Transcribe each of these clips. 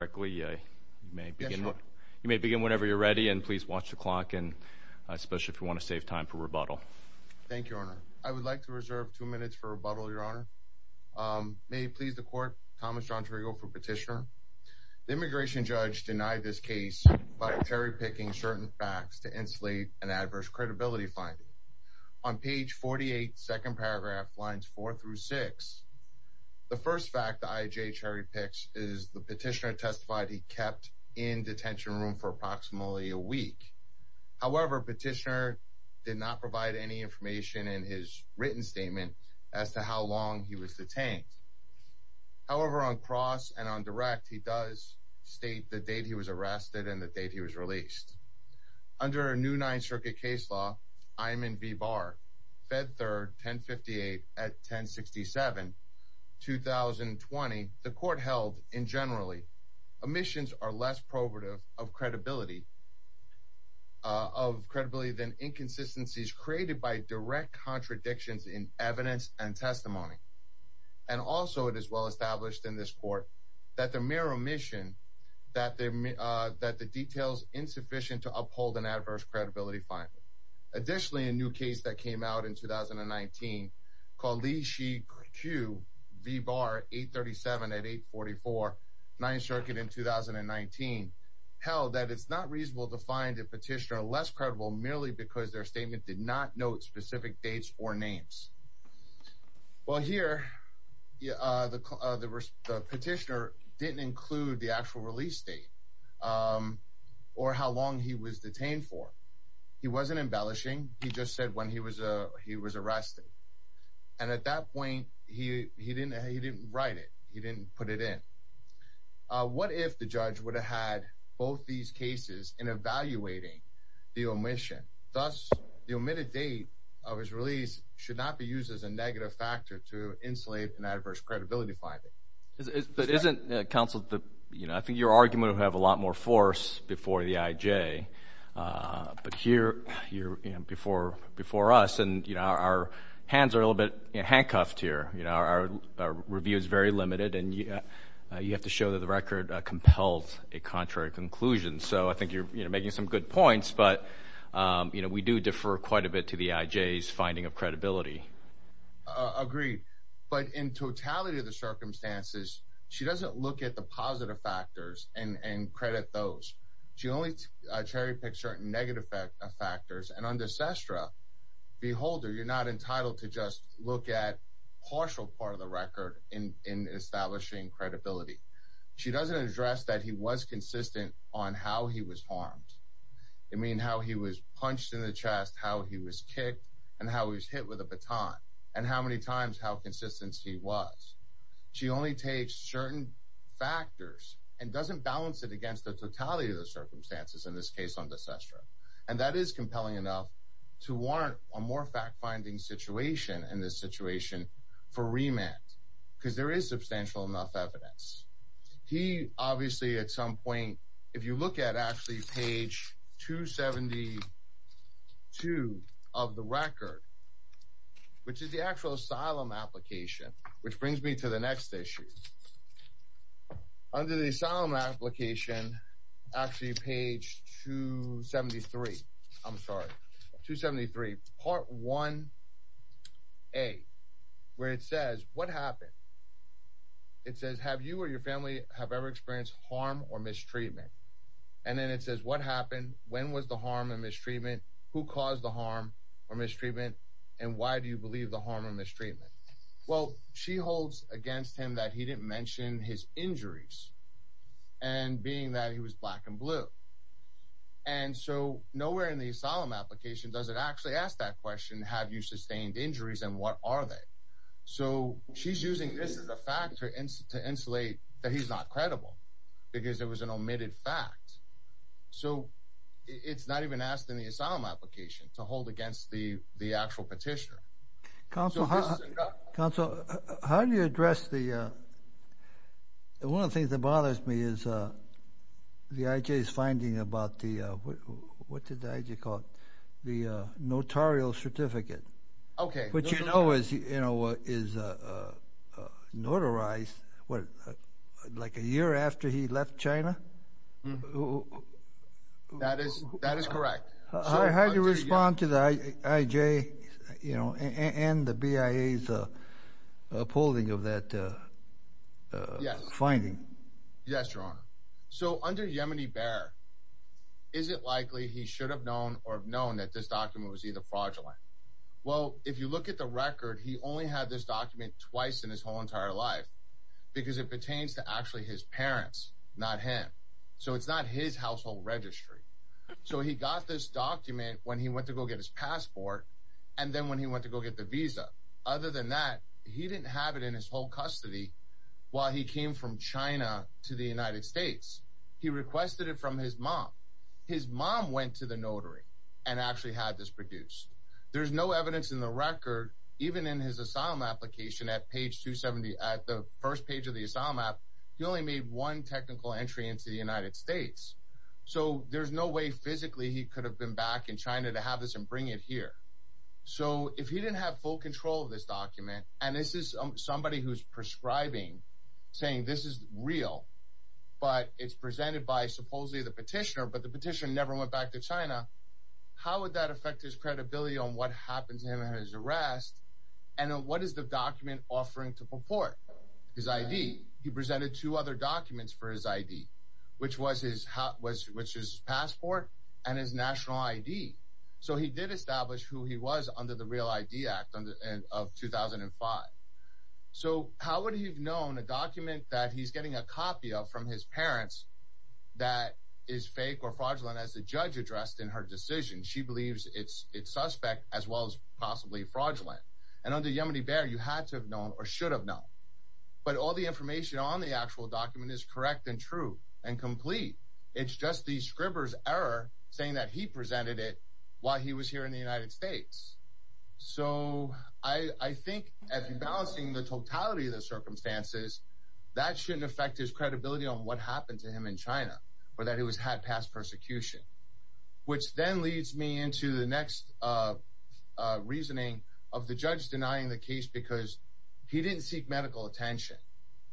You may begin whenever you're ready, and please watch the clock, especially if you want to save time for rebuttal. Thank you, Your Honor. I would like to reserve two minutes for rebuttal, Your Honor. May it please the Court, Thomas John Drigo for Petitioner. The immigration judge denied this case by cherry-picking certain facts to insulate an adverse credibility finding. On page 48, second paragraph, lines 4 through 6, the first fact the IJ cherry-picks is the Petitioner testified he kept in detention room for approximately a week. However, Petitioner did not provide any information in his written statement as to how long he was detained. However, on cross and on direct, he does state the date he was arrested and the date he was released. Under a new Ninth Circuit case law, Iman B. Barr, Fed Third, 1058 at 1067, 2020, the Court held, in generally, omissions are less probative of credibility than inconsistencies created by direct contradictions in evidence and testimony. And also, it is well-established in this Court that the mere omission, that the details insufficient to uphold an adverse credibility finding. Additionally, a new case that came out in 2019, called Li-Xi-Q v. Barr, 837 at 844, Ninth Circuit in 2019, held that it's not reasonable to find a Petitioner less credible merely because their statement did not note specific dates or names. Well, here, the Petitioner didn't include the actual release date or how long he was detained for. He wasn't embellishing. He just said when he was arrested. And at that point, he didn't write it. He didn't put it in. What if the judge would have had both these cases in evaluating the omission? Thus, the omitted date of his release should not be used as a negative factor to insulate an adverse credibility finding. But isn't, Counsel, I think your argument would have a lot more force before the IJ. But here, before us, our hands are a little bit handcuffed here. Our review is very limited, and you have to show that the record compels a contrary conclusion. So I think you're making some good points, but we do defer quite a bit to the IJ's finding of credibility. Agreed. But in totality of the circumstances, she doesn't look at the positive factors and credit those. She only cherry-picks certain negative factors. And under SESTRA, beholder, you're not entitled to just look at partial part of the record in establishing credibility. She doesn't address that he was consistent on how he was harmed. You mean how he was punched in the chest, how he was kicked, and how he was hit with a baton, and how many times, how consistent he was. She only takes certain factors and doesn't balance it against the totality of the circumstances in this case on the SESTRA. And that is compelling enough to warrant a more fact-finding situation in this situation for remand, because there is substantial enough evidence. He obviously at some point, if you look at actually page 272 of the record, which is the actual asylum application, which brings me to the next issue. Under the asylum application, actually page 273, I'm sorry, 273, part 1A, where it says, what happened? It says, have you or your family have ever experienced harm or mistreatment? And then it says, what happened? When was the harm and mistreatment? Who caused the harm or mistreatment? And why do you believe the harm or mistreatment? Well, she holds against him that he didn't mention his injuries, and being that he was black and blue. And so nowhere in the asylum application does it actually ask that question, have you sustained injuries and what are they? So she's using this as a factor to insulate that he's not credible, because it was an omitted fact. So it's not even asked in the asylum application to hold against the actual petitioner. Counsel, how do you address the, one of the things that bothers me is the IJ's finding about the, what did the IJ call it, the notarial certificate. Okay. Which you know is, you know, is notarized, what, like a year after he left China? That is, that is correct. How do you respond to the IJ, you know, and the BIA's polling of that finding? Yes, Your Honor. So under Yemeni Bear, is it likely he should have known or have known that this document was either fraudulent? Well, if you look at the record, he only had this document twice in his whole entire life, because it pertains to actually his parents, not him. So it's not his household registry. So he got this document when he went to go get his passport, and then when he went to go get the visa. Other than that, he didn't have it in his whole custody while he came from China to the United States. He requested it from his mom. His mom went to the notary and actually had this produced. There's no evidence in the record, even in his asylum application at page 270, at the first page of the asylum app, he only made one technical entry into the United States. So there's no way physically he could have been back in China to have this and bring it here. So if he didn't have full control of this document, and this is somebody who's prescribing, saying this is real, but it's presented by supposedly the petitioner, but the petitioner never went back to China, how would that affect his credibility on what happened to him and his arrest? And what is the document offering to purport? His ID. He presented two other documents for his ID, which was his passport and his national ID. So he did establish who he was under the Real ID Act of 2005. So how would he have known a document that he's getting a copy of from his parents that is fake or fraudulent as the judge addressed in her decision? She believes it's suspect as well as possibly fraudulent. And under Yemini-Bear, you had to have known or should have known. But all the information on the actual document is correct and true and complete. It's just the scriber's error saying that he presented it while he was here in the United States. So I think if you're balancing the totality of the circumstances, that shouldn't affect his credibility on what happened to him in China or that he was had past persecution, which then leads me into the next reasoning of the judge denying the case because he didn't seek medical attention.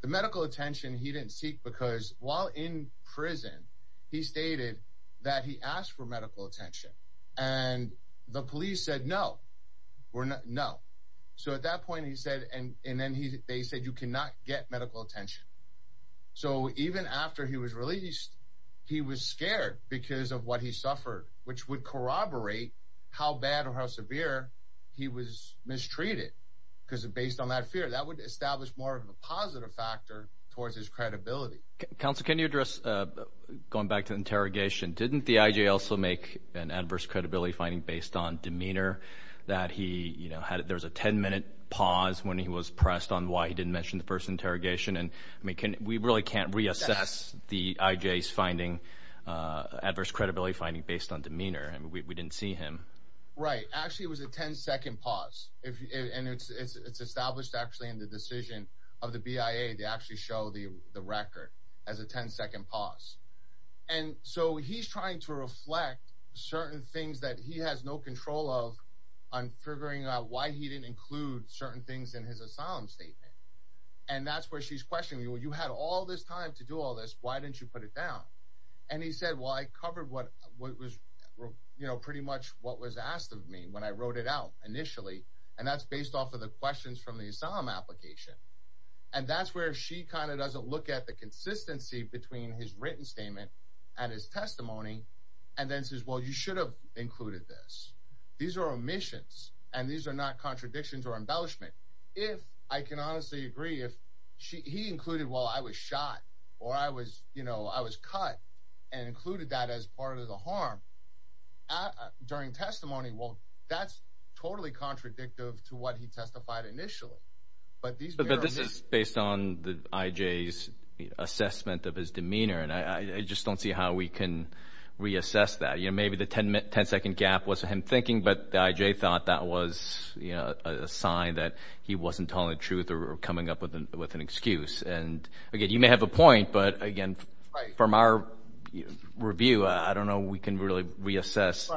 The medical attention he didn't seek because while in prison, he stated that he asked for medical attention and the police said, no, we're not. No. So at that point, he said, and then they said, you cannot get medical attention. So even after he was released, he was scared because of what he suffered, which would corroborate how bad or how severe he was mistreated. Because based on that fear, that would establish more of a positive factor towards his credibility. Counsel, can you address going back to interrogation? Didn't the I.J. also make an adverse credibility finding based on demeanor that he had? There was a 10 minute pause when he was pressed on why he didn't mention the first interrogation. And we can we really can't reassess the I.J.'s finding adverse credibility finding based on demeanor. And we didn't see him. Right. Actually, it was a 10 second pause. And it's established actually in the decision of the BIA. They actually show the record as a 10 second pause. And so he's trying to reflect certain things that he has no control of on figuring out why he didn't include certain things in his asylum statement. And that's where she's questioning you. You had all this time to do all this. Why didn't you put it down? And he said, well, I covered what was, you know, pretty much what was asked of me when I wrote it out initially. And that's based off of the questions from the asylum application. And that's where she kind of doesn't look at the consistency between his written statement and his testimony. And then says, well, you should have included this. These are omissions and these are not contradictions or embellishment. If I can honestly agree, if he included, well, I was shot or I was, you know, I was cut and included that as part of the harm during testimony. Well, that's totally contradictive to what he testified initially. But this is based on the I.J.'s assessment of his demeanor. And I just don't see how we can reassess that. Maybe the 10 second gap was him thinking, but I.J. thought that was a sign that he wasn't telling the truth or coming up with an excuse. And again, you may have a point, but again, from our review, I don't know we can really reassess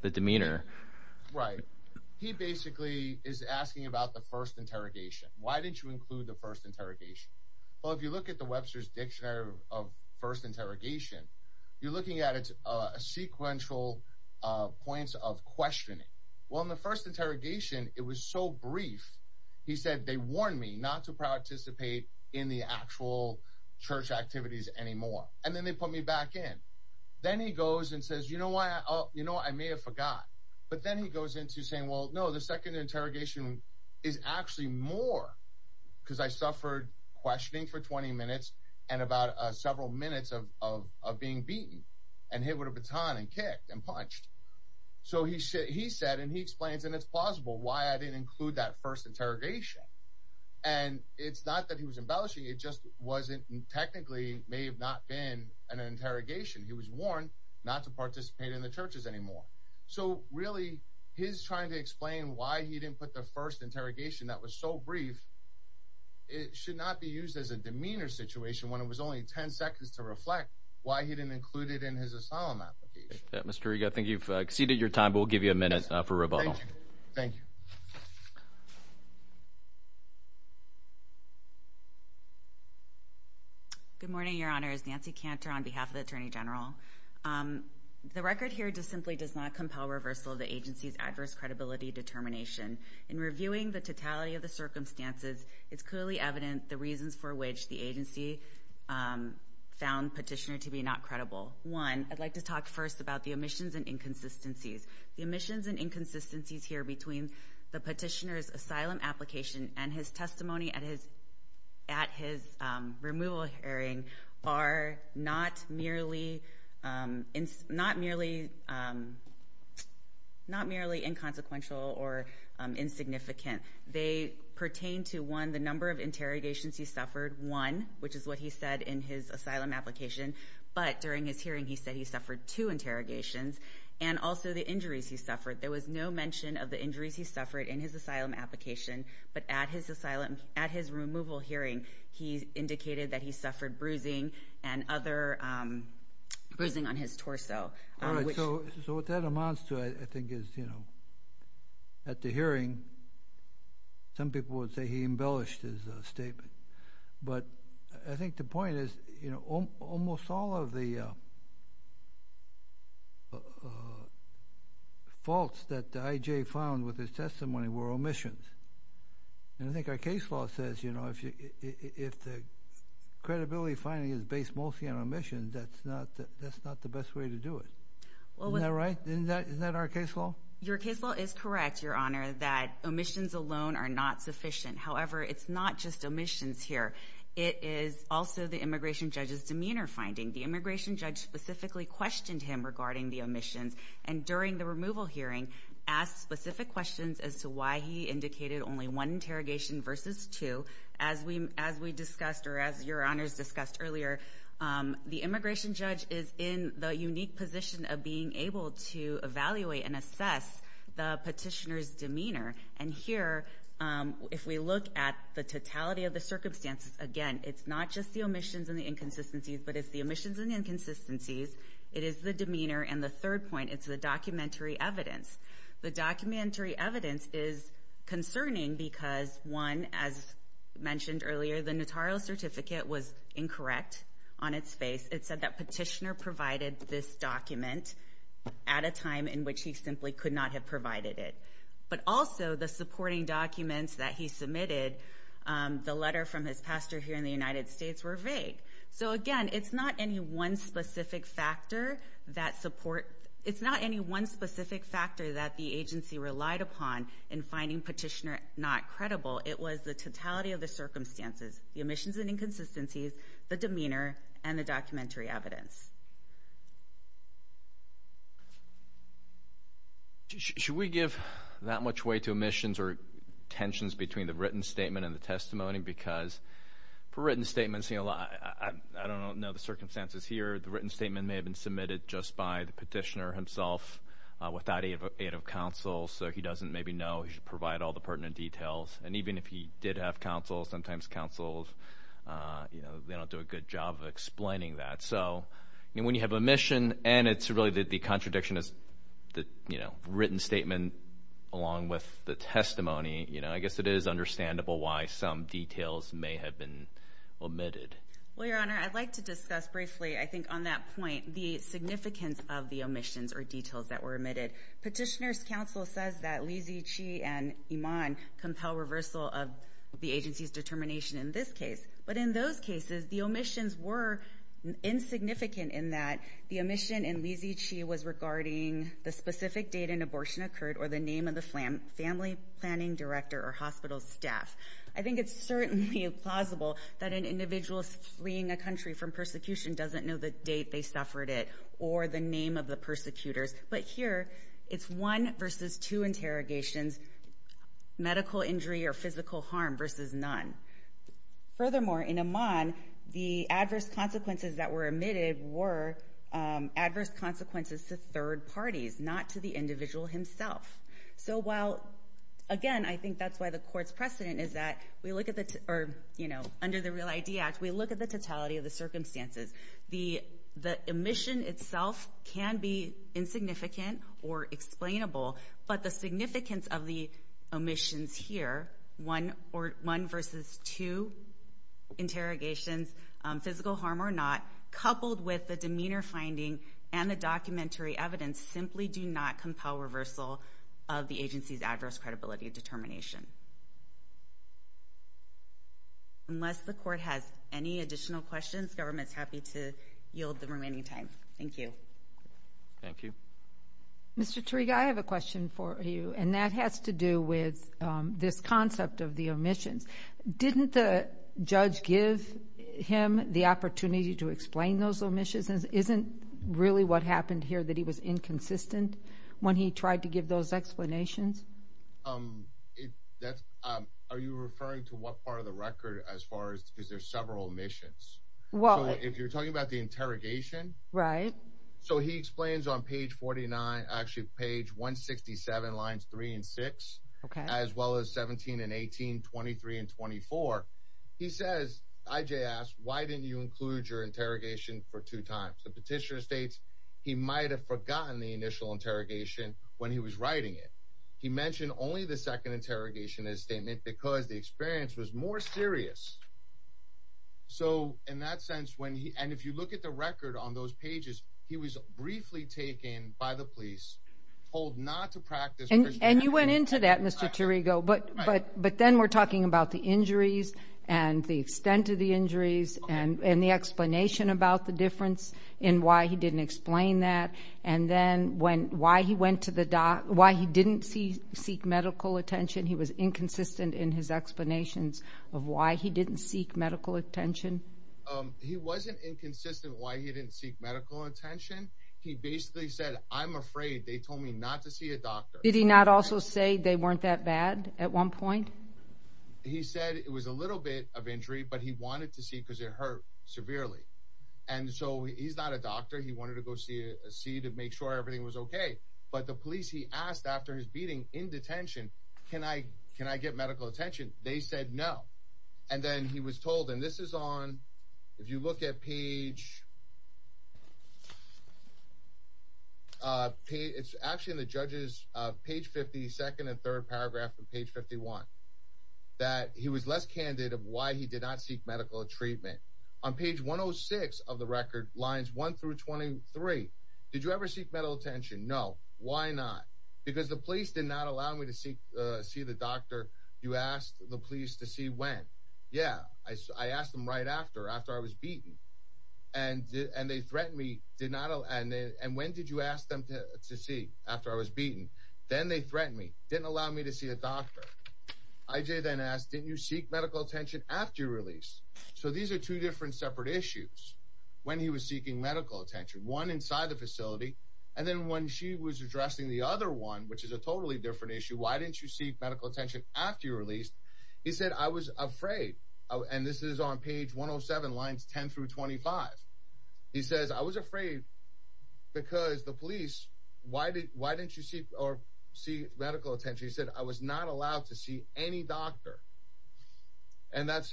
the demeanor. Right. He basically is asking about the first interrogation. Why didn't you include the first interrogation? Well, if you look at the Webster's Dictionary of First Interrogation, you're looking at a sequential points of questioning. Well, in the first interrogation, it was so brief. He said they warned me not to participate in the actual church activities anymore. And then they put me back in. Then he goes and says, you know what? I may have forgot. But then he goes into saying, well, no, the second interrogation is actually more because I suffered questioning for 20 minutes and about several minutes of being beaten and hit with a baton and kicked and punched. So he said he said and he explains and it's plausible why I didn't include that first interrogation. And it's not that he was embellishing. It just wasn't technically may have not been an interrogation. He was warned not to participate in the churches anymore. So really, he's trying to explain why he didn't put the first interrogation. That was so brief. It should not be used as a demeanor situation when it was only 10 seconds to reflect why he didn't include it in his asylum. Mr. I think you've exceeded your time. We'll give you a minute for rebuttal. Thank you. Good morning, Your Honors. Nancy Cantor on behalf of the attorney general. The record here just simply does not compel reversal of the agency's adverse credibility determination. In reviewing the totality of the circumstances, it's clearly evident the reasons for which the agency found petitioner to be not credible. One, I'd like to talk first about the omissions and inconsistencies. The omissions and inconsistencies here between the petitioner's asylum application and his testimony at his removal hearing are not merely inconsequential or insignificant. They pertain to, one, the number of interrogations he suffered, one, which is what he said in his asylum application. But during his hearing, he said he suffered two interrogations, and also the injuries he suffered. There was no mention of the injuries he suffered in his asylum application. But at his removal hearing, he indicated that he suffered bruising and other bruising on his torso. So what that amounts to, I think, is at the hearing, some people would say he embellished his statement. But I think the point is almost all of the faults that the IJ found with his testimony were omissions. And I think our case law says if the credibility finding is based mostly on omissions, that's not the best way to do it. Isn't that right? Isn't that our case law? Your case law is correct, Your Honor, that omissions alone are not sufficient. However, it's not just omissions here. It is also the immigration judge's demeanor finding. The immigration judge specifically questioned him regarding the omissions, and during the removal hearing asked specific questions as to why he indicated only one interrogation versus two. As we discussed or as Your Honors discussed earlier, the immigration judge is in the unique position of being able to evaluate and assess the petitioner's demeanor. And here, if we look at the totality of the circumstances, again, it's not just the omissions and the inconsistencies, but it's the omissions and inconsistencies, it is the demeanor, and the third point, it's the documentary evidence. The documentary evidence is concerning because, one, as mentioned earlier, the notarial certificate was incorrect on its face. It said that petitioner provided this document at a time in which he simply could not have provided it. But also, the supporting documents that he submitted, the letter from his pastor here in the United States, were vague. So, again, it's not any one specific factor that the agency relied upon in finding petitioner not credible. It was the totality of the circumstances, the omissions and inconsistencies, the demeanor, and the documentary evidence. Should we give that much weight to omissions or tensions between the written statement and the testimony? Because for written statements, I don't know the circumstances here. The written statement may have been submitted just by the petitioner himself without aid of counsel, so he doesn't maybe know he should provide all the pertinent details. And even if he did have counsel, sometimes counsels, you know, they don't do a good job of explaining that. So when you have omission and it's really that the contradiction is the, you know, written statement along with the testimony, you know, I guess it is understandable why some details may have been omitted. Well, Your Honor, I'd like to discuss briefly, I think on that point, the significance of the omissions or details that were omitted. Petitioner's counsel says that Lizzie, Chi, and Iman compel reversal of the agency's determination in this case. But in those cases, the omissions were insignificant in that the omission in Lizzie, Chi, was regarding the specific date an abortion occurred or the name of the family planning director or hospital staff. I think it's certainly plausible that an individual fleeing a country from persecution doesn't know the date they suffered it or the name of the persecutors. But here, it's one versus two interrogations, medical injury or physical harm versus none. Furthermore, in Iman, the adverse consequences that were omitted were adverse consequences to third parties, not to the individual himself. So while, again, I think that's why the court's precedent is that we look at the, or, you know, under the Real ID Act, we look at the totality of the circumstances. The omission itself can be insignificant or explainable, but the significance of the omissions here, one versus two interrogations, physical harm or not, coupled with the demeanor finding and the documentary evidence simply do not compel reversal of the agency's adverse credibility determination. Unless the court has any additional questions, government's happy to yield the remaining time. Thank you. Thank you. Mr. Tariq, I have a question for you, and that has to do with this concept of the omissions. Didn't the judge give him the opportunity to explain those omissions? Isn't really what happened here that he was inconsistent when he tried to give those explanations? Are you referring to what part of the record as far as is there several omissions? Well, if you're talking about the interrogation. Right. So he explains on page 49, actually page 167, lines 3 and 6. Okay. As well as 17 and 18, 23 and 24. He says, I.J. asks, why didn't you include your interrogation for two times? The petitioner states he might have forgotten the initial interrogation when he was writing it. He mentioned only the second interrogation in his statement because the experience was more serious. So in that sense, and if you look at the record on those pages, he was briefly taken by the police, told not to practice. And you went into that, Mr. Tariq, but then we're talking about the injuries and the extent of the injuries and the explanation about the difference in why he didn't explain that and then why he didn't seek medical attention. He was inconsistent in his explanations of why he didn't seek medical attention. He wasn't inconsistent why he didn't seek medical attention. He basically said, I'm afraid they told me not to see a doctor. Did he not also say they weren't that bad at one point? He said it was a little bit of injury, but he wanted to see because it hurt severely. And so he's not a doctor. He wanted to go see to make sure everything was okay. But the police, he asked after his beating in detention, can I get medical attention? They said no. And then he was told, and this is on, if you look at page, it's actually in the judge's page 50, second and third paragraph from page 51, that he was less candid of why he did not seek medical treatment. On page 106 of the record, lines 1 through 23, did you ever seek medical attention? No. Why not? Because the police did not allow me to see the doctor. You asked the police to see when? Yeah, I asked them right after, after I was beaten. And they threatened me, and when did you ask them to see after I was beaten? Then they threatened me, didn't allow me to see a doctor. I.J. then asked, didn't you seek medical attention after you were released? So these are two different separate issues when he was seeking medical attention. One inside the facility, and then when she was addressing the other one, which is a totally different issue, why didn't you seek medical attention after you were released? He said, I was afraid. And this is on page 107, lines 10 through 25. He says, I was afraid because the police, why didn't you seek medical attention? He said, I was not allowed to see any doctor. And that's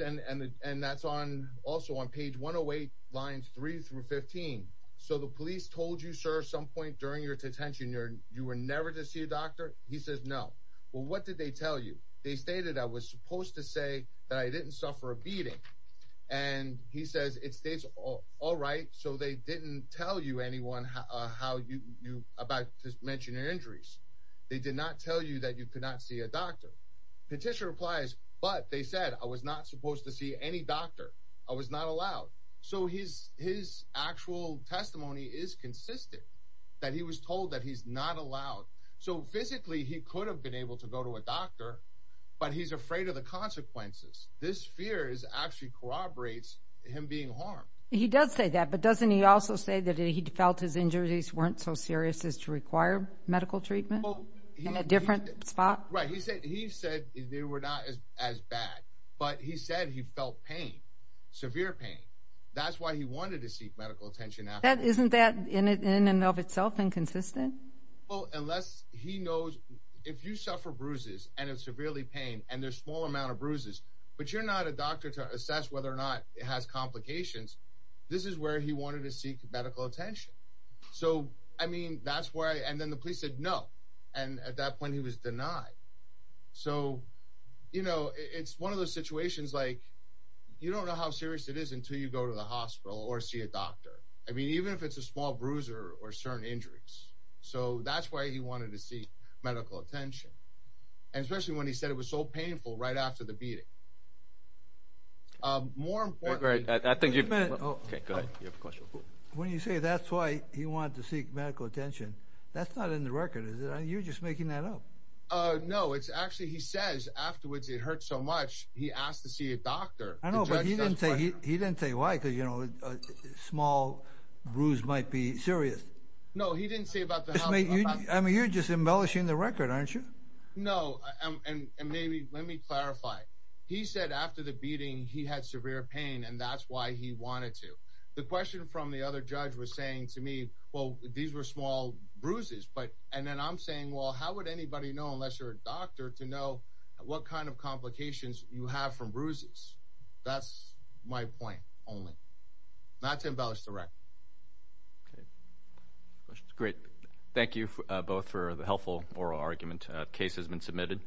also on page 108, lines 3 through 15. So the police told you, sir, at some point during your detention, you were never to see a doctor? He says, no. Well, what did they tell you? They stated I was supposed to say that I didn't suffer a beating. And he says, it states all right, so they didn't tell you anyone about mentioning injuries. They did not tell you that you could not see a doctor. Petitioner replies, but they said I was not supposed to see any doctor. I was not allowed. So his actual testimony is consistent, that he was told that he's not allowed. So physically he could have been able to go to a doctor, but he's afraid of the consequences. This fear actually corroborates him being harmed. He does say that, but doesn't he also say that he felt his injuries weren't so serious as to require medical treatment in a different spot? Right. He said they were not as bad, but he said he felt pain, severe pain. That's why he wanted to seek medical attention. Isn't that in and of itself inconsistent? Well, unless he knows, if you suffer bruises and it's severely pain and there's a small amount of bruises, but you're not a doctor to assess whether or not it has complications, this is where he wanted to seek medical attention. And then the police said no, and at that point he was denied. So it's one of those situations like you don't know how serious it is until you go to the hospital or see a doctor, even if it's a small bruise or certain injuries. So that's why he wanted to seek medical attention, especially when he said it was so painful right after the beating. Okay, go ahead. When you say that's why he wanted to seek medical attention, that's not in the record, is it? You're just making that up. No, it's actually, he says afterwards it hurt so much he asked to see a doctor. I know, but he didn't say why because, you know, a small bruise might be serious. No, he didn't say about the hospital. I mean, you're just embellishing the record, aren't you? No, and maybe, let me clarify. He said after the beating he had severe pain and that's why he wanted to. The question from the other judge was saying to me, well, these were small bruises, and then I'm saying, well, how would anybody know unless you're a doctor to know what kind of complications you have from bruises? That's my point only. Not to embellish the record. Okay, great. Thank you both for the helpful oral argument. The case has been submitted.